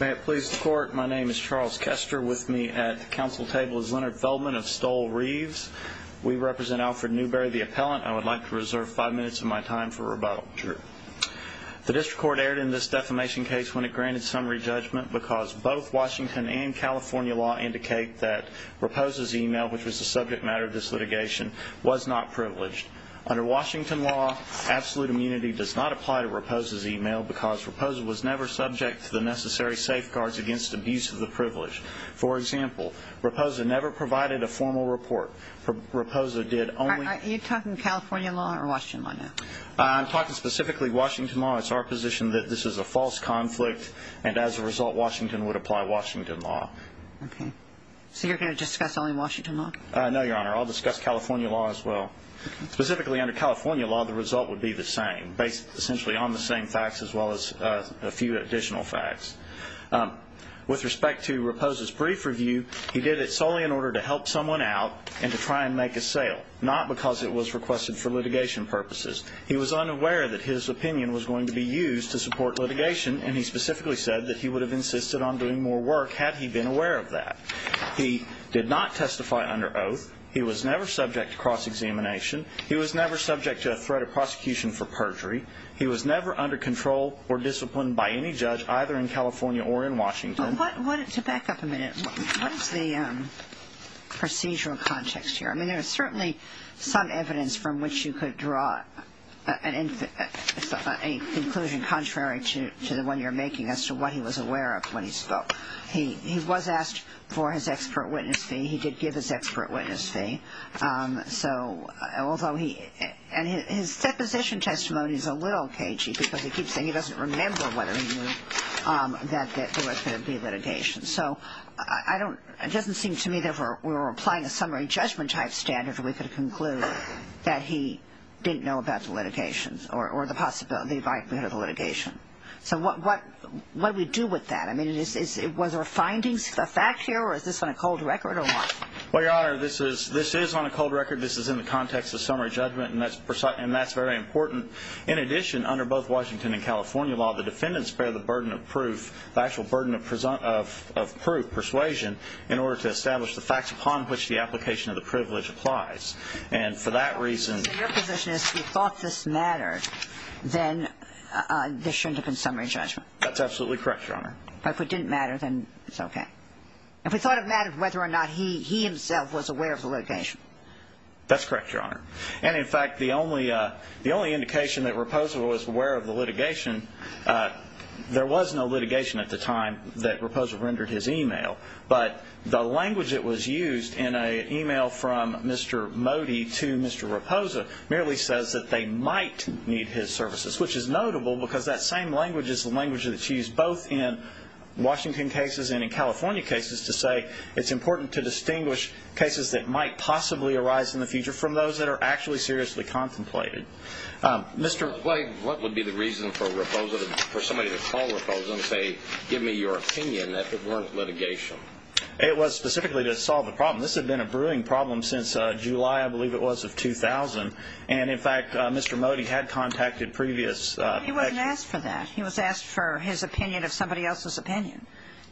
May it please the court, my name is Charles Kester. With me at the council table is Leonard Feldman of Stoll Reeves. We represent Alfred Newberry, the appellant. I would like to reserve five minutes of my time for rebuttal. The district court erred in this defamation case when it granted summary judgment because both Washington and California law indicate that Raposa's email, which was the subject matter of this litigation, was not privileged. Under Washington law, absolute immunity does not apply to Raposa's email because Raposa was never subject to the necessary safeguards against abuse of the privilege. For example, Raposa never provided a formal report. Raposa did only... Are you talking California law or Washington law now? I'm talking specifically Washington law. It's our position that this is a false conflict, and as a result, Washington would apply Washington law. Okay. So you're going to discuss only Washington law? No, Your Honor. I'll discuss California law as well. Specifically under California law, the result would be the same, based essentially on the same facts as well as a few additional facts. With respect to Raposa's brief review, he did it solely in order to help someone out and to try and make a sale, not because it was requested for litigation purposes. He was unaware that his opinion was going to be used to support litigation, and he specifically said that he would have insisted on doing more work had he been aware of that. He did not testify under oath. He was never subject to cross-examination. He was never subject to a threat of prosecution for perjury. He was never under control or disciplined by any judge either in California or in Washington. To back up a minute, what is the procedural context here? I mean, there is certainly some evidence from which you could draw a conclusion contrary to the one you're making as to what he was aware of when he spoke. He was asked for his expert witness fee. He did give his expert witness fee. And his deposition testimony is a little cagey because he keeps saying he doesn't remember whether he knew that there was going to be litigation. So it doesn't seem to me that we're applying a summary judgment type standard where we could conclude that he didn't know about the litigation or the likelihood of the litigation. So what do we do with that? I mean, was there a finding, a fact here, or is this on a cold record or what? Well, Your Honor, this is on a cold record. This is in the context of summary judgment, and that's very important. In addition, under both Washington and California law, the defendants bear the burden of proof, the actual burden of proof, persuasion, in order to establish the facts upon which the application of the privilege applies. Your position is if he thought this mattered, then there shouldn't have been summary judgment. That's absolutely correct, Your Honor. But if it didn't matter, then it's okay. If he thought it mattered whether or not he himself was aware of the litigation. That's correct, Your Honor. And, in fact, the only indication that Raposo was aware of the litigation, there was no litigation at the time that Raposo rendered his e-mail. But the language that was used in an e-mail from Mr. Modi to Mr. Raposo merely says that they might need his services, which is notable because that same language is the language that's used both in Washington cases and in California cases to say it's important to distinguish cases that might possibly arise in the future from those that are actually seriously contemplated. Mr. Blake, what would be the reason for Raposo to, for somebody to call Raposo and say, give me your opinion, if it weren't litigation? It was specifically to solve the problem. This had been a brewing problem since July, I believe it was, of 2000. And, in fact, Mr. Modi had contacted previous experts. He wasn't asked for that. He was asked for his opinion of somebody else's opinion.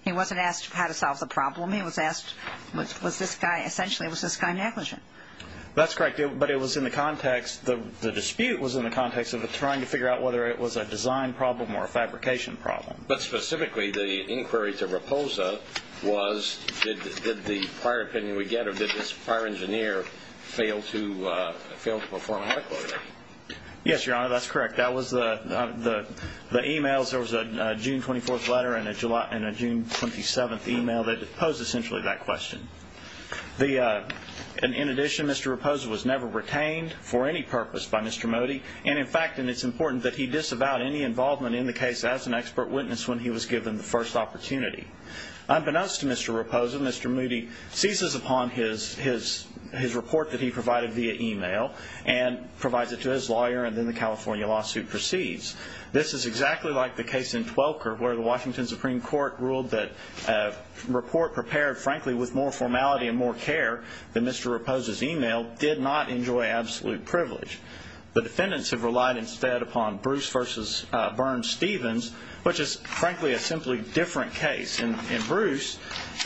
He wasn't asked how to solve the problem. He was asked, was this guy, essentially, was this guy negligent? That's correct. But it was in the context, the dispute was in the context of trying to figure out whether it was a design problem or a fabrication problem. But, specifically, the inquiry to Raposo was, did the prior opinion we get or did this prior engineer fail to perform adequately? Yes, Your Honor, that's correct. That was the e-mails. There was a June 24th letter and a June 27th e-mail that posed essentially that question. In addition, Mr. Raposo was never retained for any purpose by Mr. Modi. And, in fact, it's important that he disavow any involvement in the case as an expert witness when he was given the first opportunity. Unbeknownst to Mr. Raposo, Mr. Modi seizes upon his report that he provided via e-mail and provides it to his lawyer, and then the California lawsuit proceeds. This is exactly like the case in Twelker where the Washington Supreme Court ruled that a report prepared, frankly, with more formality and more care than Mr. Raposo's e-mail did not enjoy absolute privilege. The defendants have relied instead upon Bruce v. Burns-Stevens, which is, frankly, a simply different case. In Bruce,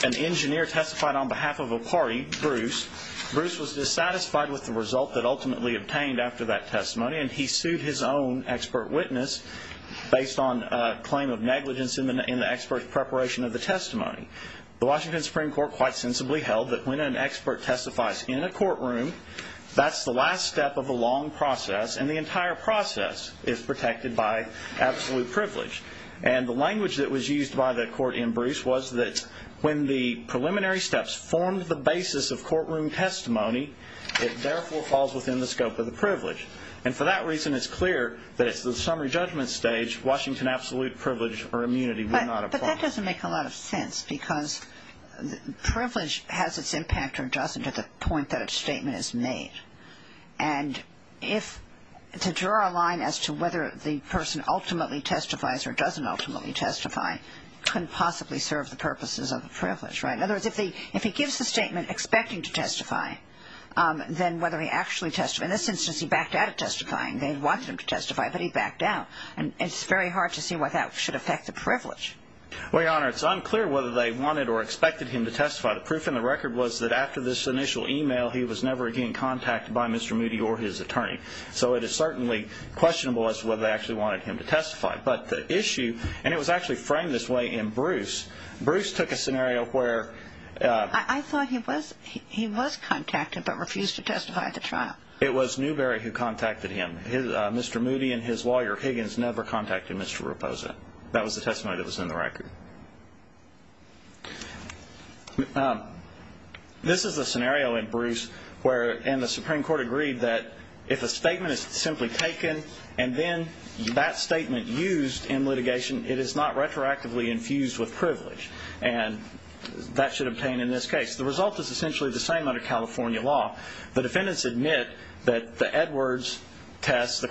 an engineer testified on behalf of a party, Bruce. Bruce was dissatisfied with the result that ultimately obtained after that testimony, and he sued his own expert witness based on a claim of negligence in the expert preparation of the testimony. The Washington Supreme Court quite sensibly held that when an expert testifies in a courtroom, that's the last step of a long process, and the entire process is protected by absolute privilege. And the language that was used by the court in Bruce was that when the preliminary steps formed the basis of courtroom testimony, it therefore falls within the scope of the privilege. And for that reason, it's clear that it's the summary judgment stage, Washington absolute privilege or immunity were not a problem. But that doesn't make a lot of sense because privilege has its impact or doesn't at the point that a statement is made. And to draw a line as to whether the person ultimately testifies or doesn't ultimately testify couldn't possibly serve the purposes of a privilege, right? In other words, if he gives the statement expecting to testify, then whether he actually testifies in this instance he backed out of testifying, they wanted him to testify, but he backed out. And it's very hard to see why that should affect the privilege. Well, Your Honor, it's unclear whether they wanted or expected him to testify. The proof in the record was that after this initial email, he was never again contacted by Mr. Moody or his attorney. So it is certainly questionable as to whether they actually wanted him to testify. But the issue, and it was actually framed this way in Bruce. Bruce took a scenario where... I thought he was contacted but refused to testify at the trial. It was Newberry who contacted him. Mr. Moody and his lawyer Higgins never contacted Mr. Raposa. That was the testimony that was in the record. This is a scenario in Bruce where... And the Supreme Court agreed that if a statement is simply taken and then that statement used in litigation, it is not retroactively infused with privilege. And that should obtain in this case. The result is essentially the same under California law. The defendants admit that the Edwards test, the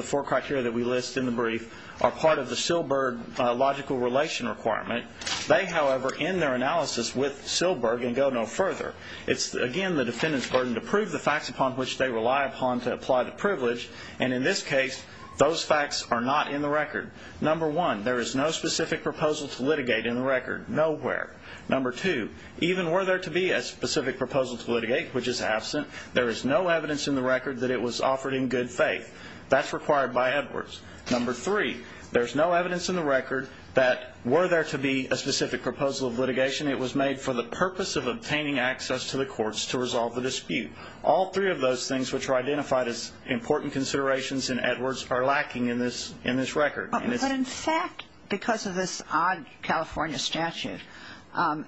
four criteria that we list in the brief, are part of the Silberg logical relation requirement. They, however, end their analysis with Silberg and go no further. It's, again, the defendant's burden to prove the facts upon which they rely upon to apply the privilege. And in this case, those facts are not in the record. Number one, there is no specific proposal to litigate in the record. Nowhere. Number two, even were there to be a specific proposal to litigate, which is absent, there is no evidence in the record that it was offered in good faith. That's required by Edwards. Number three, there's no evidence in the record that were there to be a specific proposal of litigation, it was made for the purpose of obtaining access to the courts to resolve the dispute. All three of those things, which are identified as important considerations in Edwards, are lacking in this record. But in fact, because of this odd California statute,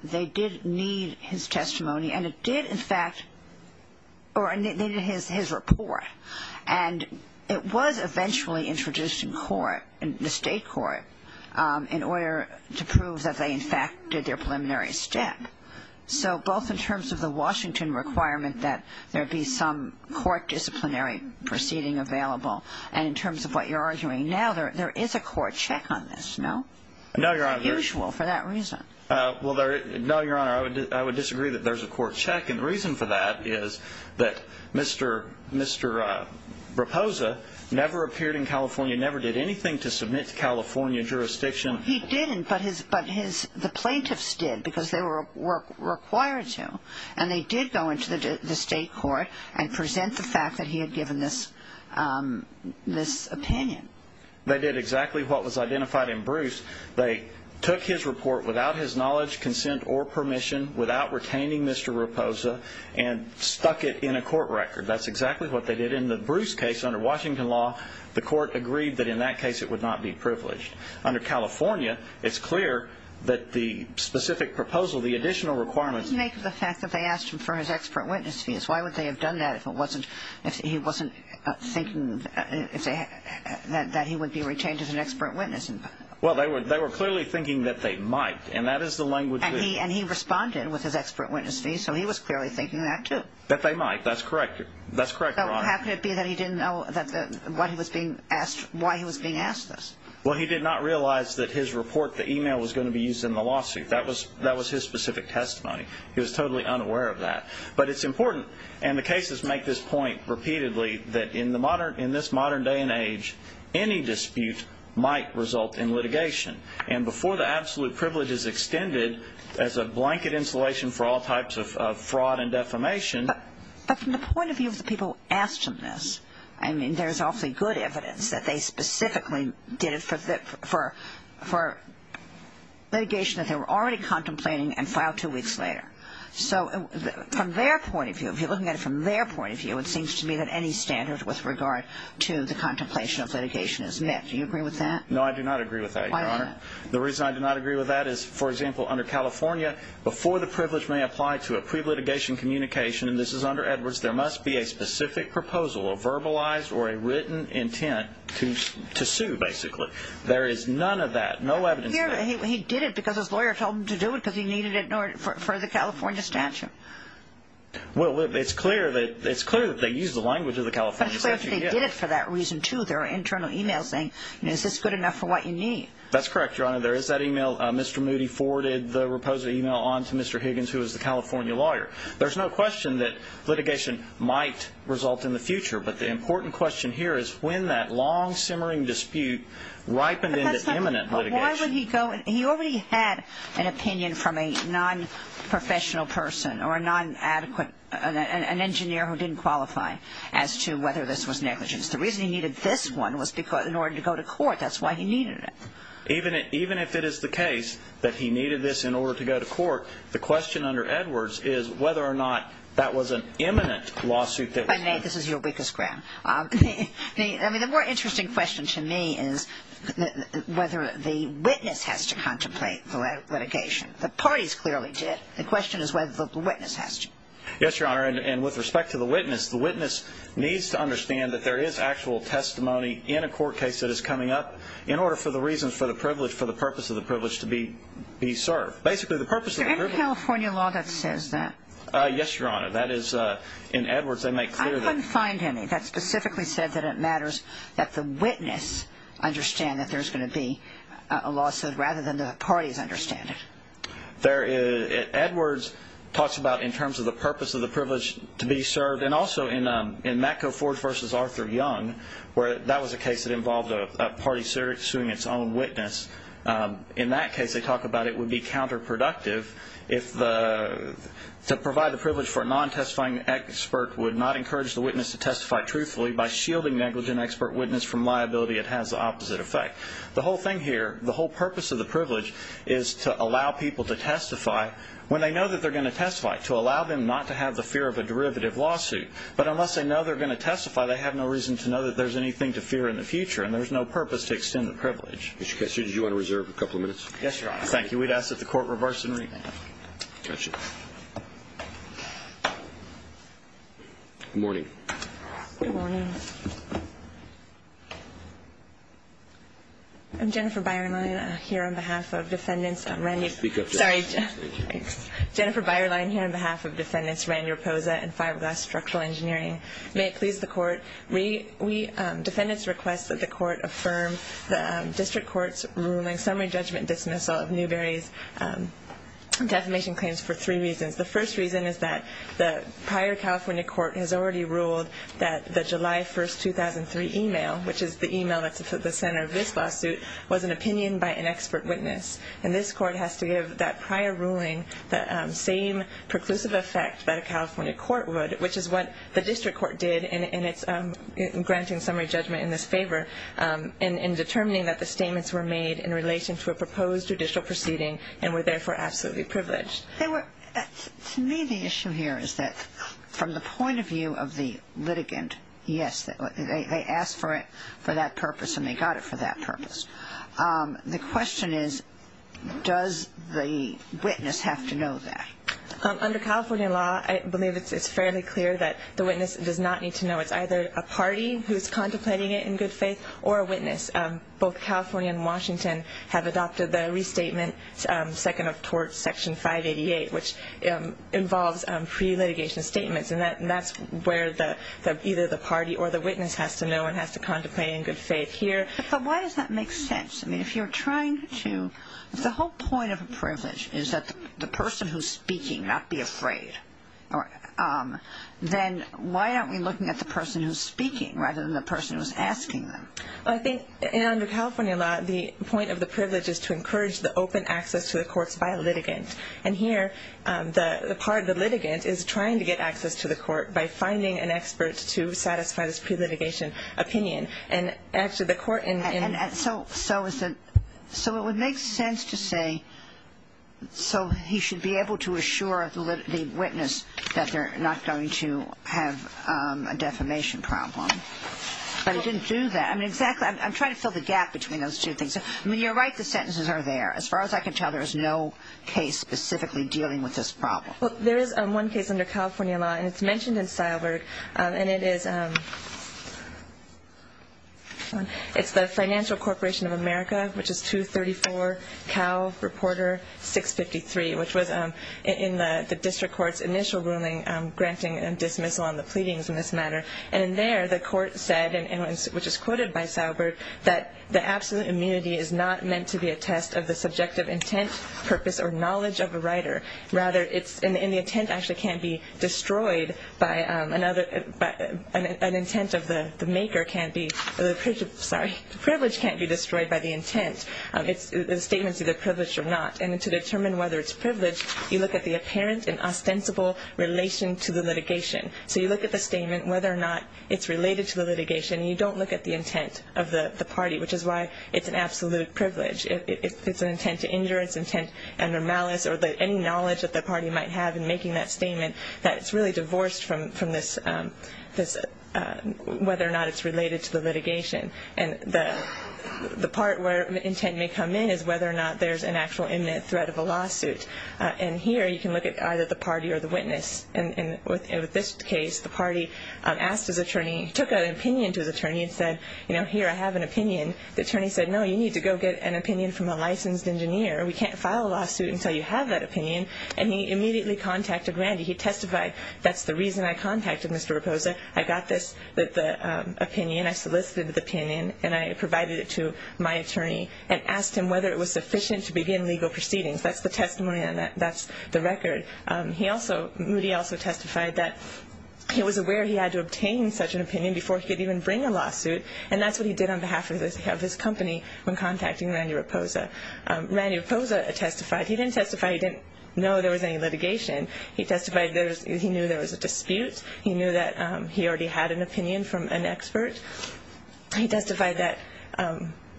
they did need his testimony, and it did, in fact, or they needed his report. And it was eventually introduced in court, in the state court, in order to prove that they, in fact, did their preliminary step. So both in terms of the Washington requirement that there be some court disciplinary proceeding available, and in terms of what you're arguing now, there is a court check on this, no? No, Your Honor. It's unusual for that reason. No, Your Honor, I would disagree that there's a court check. And the reason for that is that Mr. Raposa never appeared in California, never did anything to submit to California jurisdiction. He didn't, but the plaintiffs did because they were required to. And they did go into the state court and present the fact that he had given this opinion. They did exactly what was identified in Bruce. They took his report without his knowledge, consent, or permission, without retaining Mr. Raposa, and stuck it in a court record. That's exactly what they did. In the Bruce case, under Washington law, the court agreed that in that case it would not be privileged. Under California, it's clear that the specific proposal, the additional requirements What did he make of the fact that they asked him for his expert witness fees? Why would they have done that if he wasn't thinking that he would be retained as an expert witness? Well, they were clearly thinking that they might, and that is the language. And he responded with his expert witness fees, so he was clearly thinking that too. That they might, that's correct. That's correct, Your Honor. How could it be that he didn't know why he was being asked this? Well, he did not realize that his report, the email, was going to be used in the lawsuit. That was his specific testimony. He was totally unaware of that. But it's important, and the cases make this point repeatedly, that in this modern day and age, any dispute might result in litigation. And before the absolute privilege is extended as a blanket insulation for all types of fraud and defamation. But from the point of view of the people who asked him this, I mean, there's awfully good evidence that they specifically did it for litigation that they were already contemplating and filed two weeks later. So from their point of view, if you're looking at it from their point of view, it seems to me that any standard with regard to the contemplation of litigation is met. Do you agree with that? No, I do not agree with that, Your Honor. Why not? The reason I do not agree with that is, for example, under California, before the privilege may apply to a pre-litigation communication, and this is under Edwards, there must be a specific proposal, a verbalized or a written intent to sue, basically. There is none of that, no evidence of that. He did it because his lawyer told him to do it because he needed it for the California statute. Well, it's clear that they used the language of the California statute. But it's clear that they did it for that reason, too. There are internal emails saying, you know, is this good enough for what you need? That's correct, Your Honor. There is that email. Mr. Moody forwarded the proposed email on to Mr. Higgins, who is the California lawyer. There's no question that litigation might result in the future, but the important question here is when that long-simmering dispute ripened into imminent litigation. But why would he go? He already had an opinion from a non-professional person or a non-adequate, an engineer who didn't qualify as to whether this was negligence. The reason he needed this one was in order to go to court. That's why he needed it. Even if it is the case that he needed this in order to go to court, the question under Edwards is whether or not that was an imminent lawsuit. This is your weakest ground. I mean, the more interesting question to me is whether the witness has to contemplate the litigation. The parties clearly did. The question is whether the witness has to. Yes, Your Honor. And with respect to the witness, the witness needs to understand that there is actual testimony in a court case that is coming up in order for the reasons for the privilege, for the purpose of the privilege to be served. Basically, the purpose of the privilege Is there any California law that says that? Yes, Your Honor. That is, in Edwards, they make clear that I couldn't find any that specifically said that it matters that the witness understand that there's going to be a lawsuit rather than the parties understand it. Edwards talks about in terms of the purpose of the privilege to be served and also in Matco Ford v. Arthur Young, where that was a case that involved a party suing its own witness. In that case, they talk about it would be counterproductive to provide the privilege for a non-testifying expert would not encourage the witness to testify truthfully. By shielding negligent expert witness from liability, it has the opposite effect. The whole thing here, the whole purpose of the privilege, is to allow people to testify when they know that they're going to testify, to allow them not to have the fear of a derivative lawsuit. But unless they know they're going to testify, they have no reason to know that there's anything to fear in the future, and there's no purpose to extend the privilege. Mr. Kessler, did you want to reserve a couple of minutes? Yes, Your Honor. Thank you. We'd ask that the Court reverse and rename. Gotcha. Good morning. Good morning. I'm Jennifer Beierlein here on behalf of defendants Randy Raposa and Fiberglass Structural Engineering. May it please the Court, defendants request that the Court affirm the district court's ruling, summary judgment dismissal of Newberry's defamation claims for three reasons. The first reason is that the prior California court has already ruled that the July 1, 2003 email, which is the email that's at the center of this lawsuit, was an opinion by an expert witness. And this court has to give that prior ruling the same preclusive effect that a California court would, which is what the district court did in granting summary judgment in this favor in determining that the statements were made in relation to a proposed judicial proceeding and were therefore absolutely privileged. To me, the issue here is that from the point of view of the litigant, yes, they asked for that purpose and they got it for that purpose. The question is, does the witness have to know that? Under California law, I believe it's fairly clear that the witness does not need to know. It's either a party who's contemplating it in good faith or a witness. Both California and Washington have adopted the restatement, second of tort section 588, which involves pre-litigation statements. And that's where either the party or the witness has to know and has to contemplate in good faith here. But why does that make sense? I mean, if you're trying to, if the whole point of a privilege is that the person who's speaking not be afraid, then why aren't we looking at the person who's speaking rather than the person who's asking them? Well, I think under California law, the point of the privilege is to encourage the open access to the courts by a litigant. And here, the part of the litigant is trying to get access to the court by finding an expert to satisfy this pre-litigation opinion. So it would make sense to say, so he should be able to assure the witness that they're not going to have a defamation problem. But he didn't do that. I mean, exactly. I'm trying to fill the gap between those two things. I mean, you're right. The sentences are there. As far as I can tell, there is no case specifically dealing with this problem. Well, there is one case under California law, and it's mentioned in Seilberg. And it is the Financial Corporation of America, which is 234 Cal Reporter 653, which was in the district court's initial ruling granting a dismissal on the pleadings in this matter. And in there, the court said, which is quoted by Seilberg, that the absolute immunity is not meant to be a test of the subjective intent, purpose, or knowledge of a writer. And the intent actually can't be destroyed by another – an intent of the maker can't be – sorry, the privilege can't be destroyed by the intent. The statement is either privileged or not. And to determine whether it's privileged, you look at the apparent and ostensible relation to the litigation. So you look at the statement, whether or not it's related to the litigation, and you don't look at the intent of the party, which is why it's an absolute privilege. It's an intent to injure, it's an intent under malice, or any knowledge that the party might have in making that statement that it's really divorced from this – whether or not it's related to the litigation. And the part where intent may come in is whether or not there's an actual imminent threat of a lawsuit. And here you can look at either the party or the witness. And with this case, the party asked his attorney – took an opinion to his attorney and said, you know, here, I have an opinion. The attorney said, no, you need to go get an opinion from a licensed engineer. We can't file a lawsuit until you have that opinion. And he immediately contacted Randy. He testified, that's the reason I contacted Mr. Raposa. I got this opinion, I solicited the opinion, and I provided it to my attorney and asked him whether it was sufficient to begin legal proceedings. That's the testimony on that. That's the record. He also – Moody also testified that he was aware he had to obtain such an opinion before he could even bring a lawsuit. And that's what he did on behalf of his company when contacting Randy Raposa. Randy Raposa testified. He didn't testify he didn't know there was any litigation. He testified he knew there was a dispute. He knew that he already had an opinion from an expert. He testified that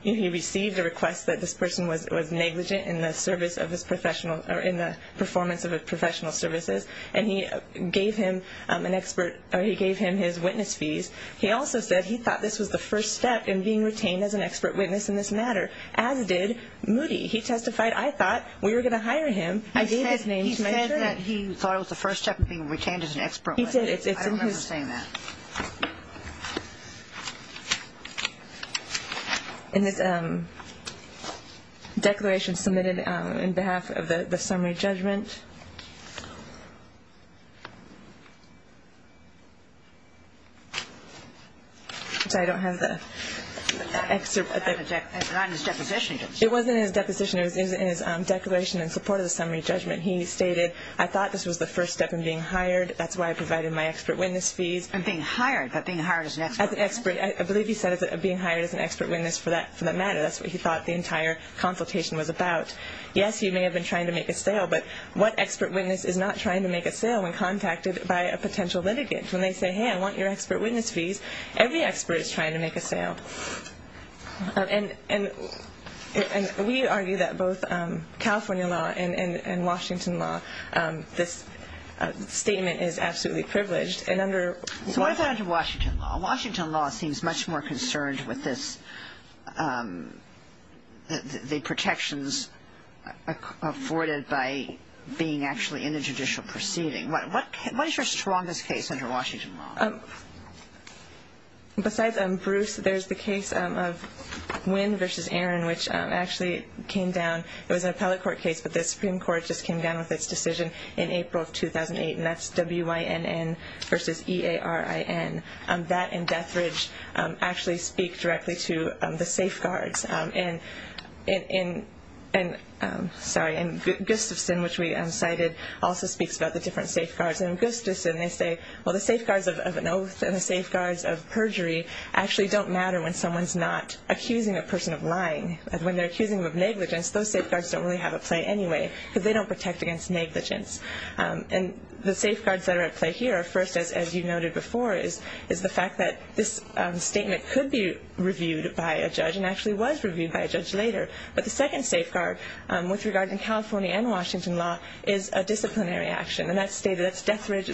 he received a request that this person was negligent in the service of his professional – or in the performance of his professional services. And he gave him an expert – or he gave him his witness fees. He also said he thought this was the first step in being retained as an expert witness in this matter, as did Moody. He testified, I thought we were going to hire him. I gave his name to my attorney. He said that he thought it was the first step in being retained as an expert witness. He did. It's in his – I don't remember saying that. In his declaration submitted in behalf of the summary judgment. I don't have the excerpt. It's not in his deposition. It wasn't in his deposition. It was in his declaration in support of the summary judgment. He stated, I thought this was the first step in being hired. That's why I provided my expert witness fees. And being hired, but being hired as an expert. I believe he said being hired as an expert witness for that matter. That's what he thought the entire consultation was about. Yes, he may have been trying to make a sale, but what expert witness is not trying to make a sale when contacted by a potential litigant? When they say, hey, I want your expert witness fees, every expert is trying to make a sale. And we argue that both California law and Washington law, this statement is absolutely privileged. So what about under Washington law? Washington law seems much more concerned with this, the protections afforded by being actually in a judicial proceeding. What is your strongest case under Washington law? Besides Bruce, there's the case of Wynn v. Aaron, which actually came down. It was an appellate court case, but the Supreme Court just came down with its decision in April of 2008, and that's Wynn v. Aaron. That and Death Ridge actually speak directly to the safeguards. And Gustafson, which we cited, also speaks about the different safeguards. And in Gustafson, they say, well, the safeguards of an oath and the safeguards of perjury actually don't matter when someone's not accusing a person of lying. When they're accusing them of negligence, those safeguards don't really have a play anyway, because they don't protect against negligence. And the safeguards that are at play here, first, as you noted before, is the fact that this statement could be reviewed by a judge and actually was reviewed by a judge later. But the second safeguard with regard to California and Washington law is a disciplinary action. And that's Death Ridge.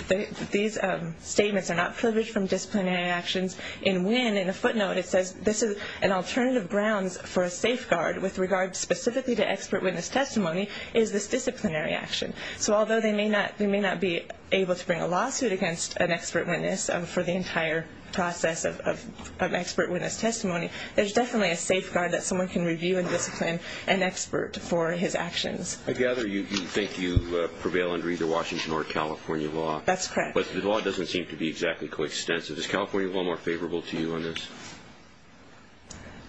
These statements are not privileged from disciplinary actions. In Wynn, in a footnote, it says this is an alternative grounds for a safeguard with regard specifically to expert witness testimony is this disciplinary action. So although they may not be able to bring a lawsuit against an expert witness for the entire process of expert witness testimony, there's definitely a safeguard that someone can review and discipline an expert for his actions. I gather you think you prevail under either Washington or California law. That's correct. But the law doesn't seem to be exactly coextensive. Is California law more favorable to you on this?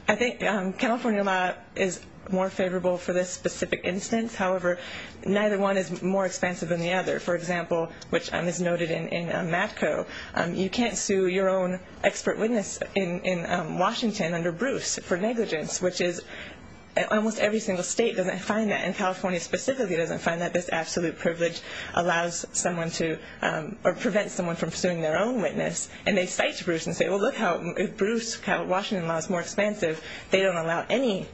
I think California law is more favorable for this specific instance. However, neither one is more expansive than the other. For example, which is noted in MATCO, you can't sue your own expert witness in Washington under Bruce for negligence, which is almost every single state doesn't find that, and California specifically doesn't find that this absolute privilege allows someone to or prevents someone from suing their own witness. And they cite Bruce and say, well, look how Bruce, Washington law is more expansive. They don't allow any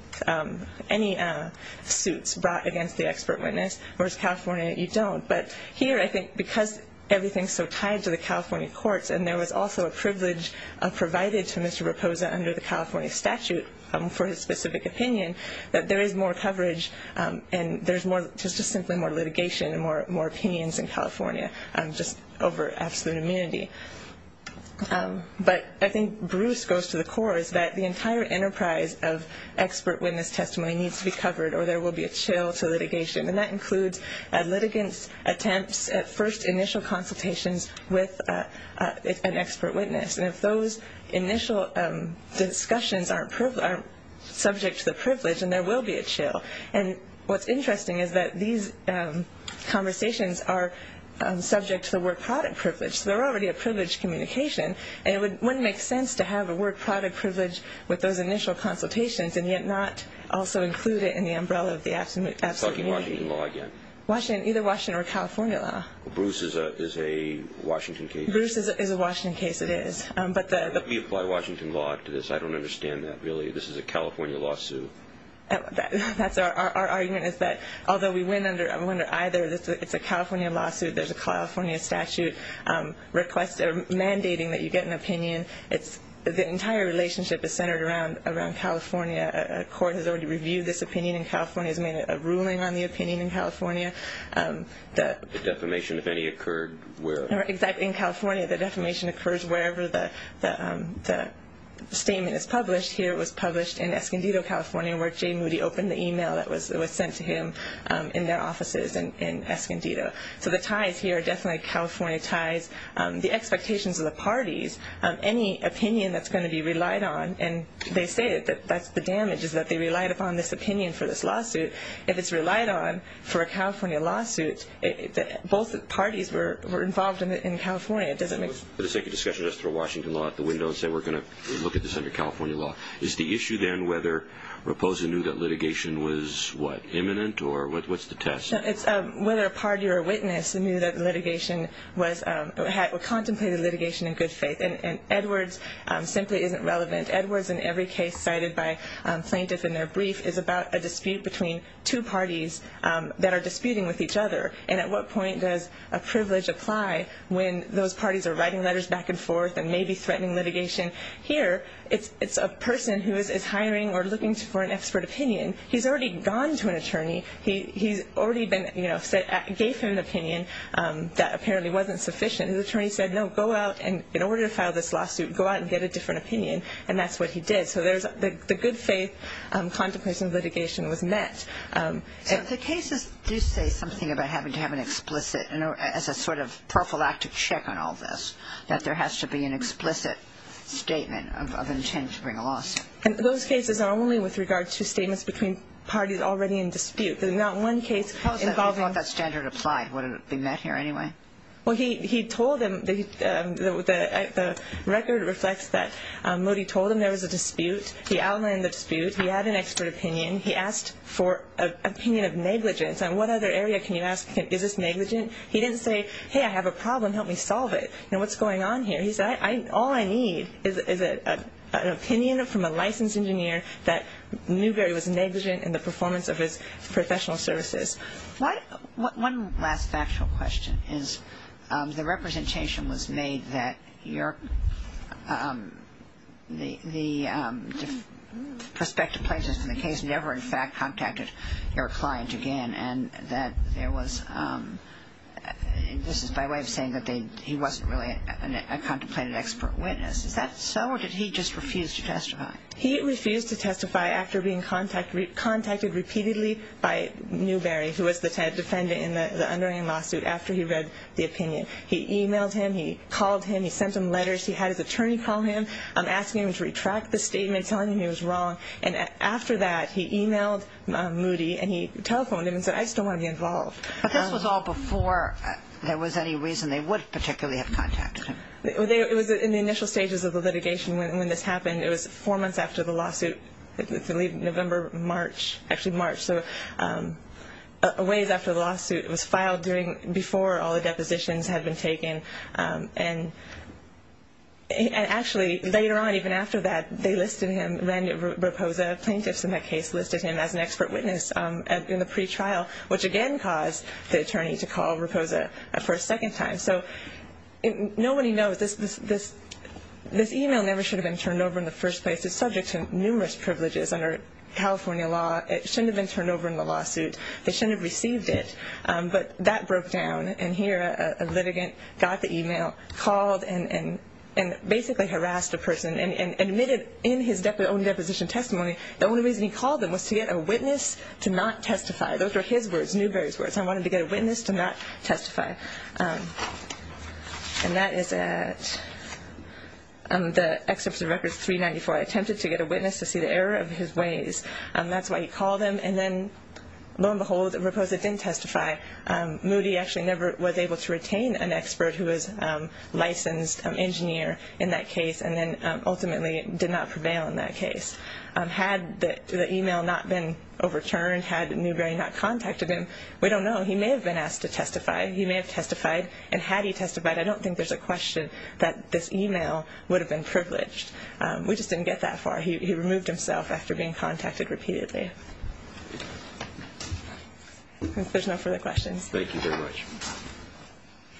suits brought against the expert witness, whereas California you don't. But here I think because everything is so tied to the California courts and there was also a privilege provided to Mr. Raposa under the California statute for his specific opinion, that there is more coverage and there's just simply more litigation and more opinions in California just over absolute immunity. But I think Bruce goes to the core, is that the entire enterprise of expert witness testimony needs to be covered or there will be a chill to litigation. And that includes a litigant's attempts at first initial consultations with an expert witness. And if those initial discussions aren't subject to the privilege, then there will be a chill. And what's interesting is that these conversations are subject to the word product privilege. So they're already a privilege communication. And it wouldn't make sense to have a word product privilege with those initial consultations and yet not also include it in the umbrella of the absolute immunity. You're talking Washington law again. Either Washington or California law. Bruce is a Washington case. Bruce is a Washington case, it is. We apply Washington law to this. I don't understand that really. This is a California lawsuit. That's our argument is that although we went under either, it's a California lawsuit, there's a California statute mandating that you get an opinion. The entire relationship is centered around California. A court has already reviewed this opinion in California, has made a ruling on the opinion in California. The defamation, if any, occurred where? Exactly. In California the defamation occurs wherever the statement is published. Here it was published in Escondido, California, where Jay Moody opened the e-mail that was sent to him in their offices in Escondido. So the ties here are definitely California ties. The expectations of the parties, any opinion that's going to be relied on, and they say that that's the damage is that they relied upon this opinion for this lawsuit. If it's relied on for a California lawsuit, both the parties were involved in California. It doesn't make sense. Let's take a discussion just through Washington law out the window and say we're going to look at this under California law. Is the issue then whether Reposa knew that litigation was, what, imminent or what's the test? It's whether a party or a witness knew that litigation was, contemplated litigation in good faith. And Edwards simply isn't relevant. Edwards in every case cited by plaintiffs in their brief is about a dispute between two parties that are disputing with each other. And at what point does a privilege apply when those parties are writing letters back and forth and maybe threatening litigation? Here it's a person who is hiring or looking for an expert opinion. He's already gone to an attorney. He's already been, you know, gave him an opinion that apparently wasn't sufficient. And the attorney said, no, go out, and in order to file this lawsuit, go out and get a different opinion, and that's what he did. So the good faith contemplation of litigation was met. So the cases do say something about having to have an explicit, as a sort of prophylactic check on all this, that there has to be an explicit statement of intent to bring a lawsuit. And those cases are only with regard to statements between parties already in dispute. There's not one case involving. How does that standard apply? Would it be met here anyway? Well, he told them, the record reflects that. Moody told them there was a dispute. He outlined the dispute. He had an expert opinion. He asked for an opinion of negligence. And what other area can you ask, is this negligent? He didn't say, hey, I have a problem, help me solve it. You know, what's going on here? He said, all I need is an opinion from a licensed engineer that knew there was negligence in the performance of his professional services. One last factual question is the representation was made that the prospective plaintiffs from the case never, in fact, contacted your client again, and that there was, this is by way of saying that he wasn't really a contemplated expert witness. Is that so, or did he just refuse to testify? He refused to testify after being contacted repeatedly by Newberry, who was the defendant in the underlying lawsuit, after he read the opinion. He emailed him. He called him. He sent him letters. He had his attorney call him, asking him to retract the statement, telling him he was wrong. And after that, he emailed Moody, and he telephoned him and said, I just don't want to be involved. But this was all before there was any reason they would particularly have contacted him. It was in the initial stages of the litigation when this happened. It was four months after the lawsuit, November, March, actually March, so a ways after the lawsuit. It was filed before all the depositions had been taken. And actually, later on, even after that, they listed him, ran a proposal. Plaintiffs in that case listed him as an expert witness in the pretrial, which again caused the attorney to call Raposa for a second time. So nobody knows. This email never should have been turned over in the first place. It's subject to numerous privileges under California law. It shouldn't have been turned over in the lawsuit. They shouldn't have received it. But that broke down, and here a litigant got the email, called, and basically harassed a person and admitted in his own deposition testimony the only reason he called them was to get a witness to not testify. Those were his words, Newberry's words. I wanted to get a witness to not testify. And that is at the excerpt of Records 394. I attempted to get a witness to see the error of his ways. That's why he called them, and then lo and behold, Raposa didn't testify. Moody actually never was able to retain an expert who was a licensed engineer in that case and then ultimately did not prevail in that case. Had the email not been overturned, had Newberry not contacted him, we don't know. He may have been asked to testify. He may have testified, and had he testified, I don't think there's a question that this email would have been privileged. We just didn't get that far. He removed himself after being contacted repeatedly. If there's no further questions. Thank you very much.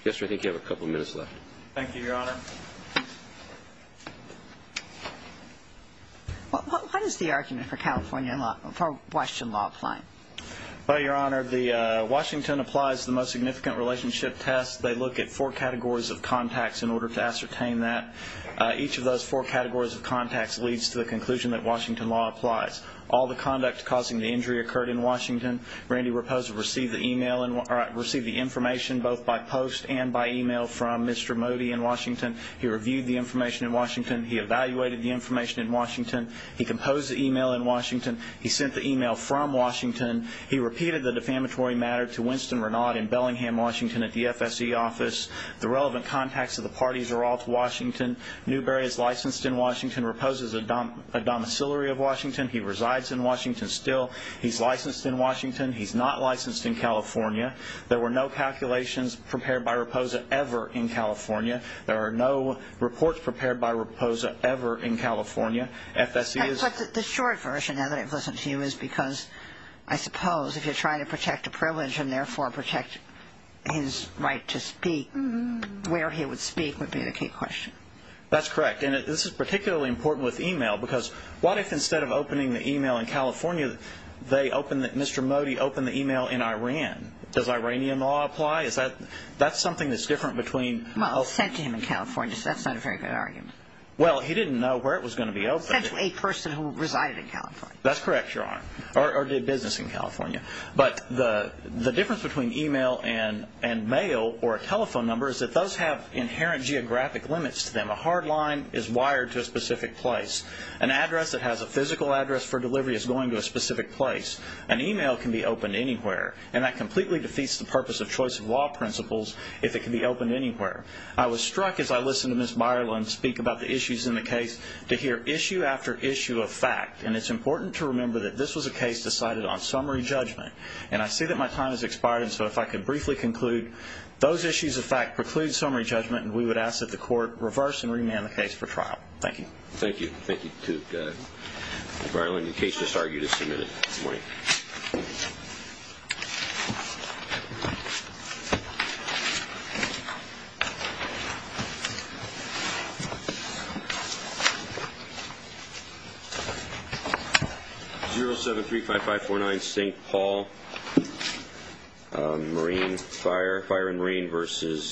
Yes, sir, I think you have a couple minutes left. Thank you, Your Honor. What is the argument for Washington law applying? Well, Your Honor, Washington applies the most significant relationship test. They look at four categories of contacts in order to ascertain that. Each of those four categories of contacts leads to the conclusion that Washington law applies. All the conduct causing the injury occurred in Washington. Randy Raposa received the information both by post and by email from Mr. Moody in Washington He reviewed the information in Washington. He evaluated the information in Washington. He composed the email in Washington. He sent the email from Washington. He repeated the defamatory matter to Winston Renaud in Bellingham, Washington at the FSC office. The relevant contacts of the parties are all to Washington. Newberry is licensed in Washington. Raposa is a domiciliary of Washington. He resides in Washington still. He's licensed in Washington. He's not licensed in California. There were no calculations prepared by Raposa ever in California. There are no reports prepared by Raposa ever in California. FSC is But the short version, now that I've listened to you, is because I suppose if you're trying to protect a privilege and therefore protect his right to speak, where he would speak would be the key question. That's correct. And this is particularly important with email because what if instead of opening the email in California, Mr. Moody opened the email in Iran? Does Iranian law apply? That's something that's different between Well, it was sent to him in California, so that's not a very good argument. Well, he didn't know where it was going to be opened. It was sent to a person who resided in California. That's correct, Your Honor, or did business in California. But the difference between email and mail or a telephone number is it does have inherent geographic limits to them. A hard line is wired to a specific place. An address that has a physical address for delivery is going to a specific place. An email can be opened anywhere, and that completely defeats the purpose of choice of law principles if it can be opened anywhere. I was struck as I listened to Ms. Byerlin speak about the issues in the case to hear issue after issue of fact, and it's important to remember that this was a case decided on summary judgment. And I see that my time has expired, and so if I could briefly conclude, those issues of fact preclude summary judgment, and we would ask that the court reverse and remand the case for trial. Thank you. Thank you to Ms. Byerlin. The case is argued as submitted. Good morning. 0735549 St. Paul. Marine fire, fire and rain versus.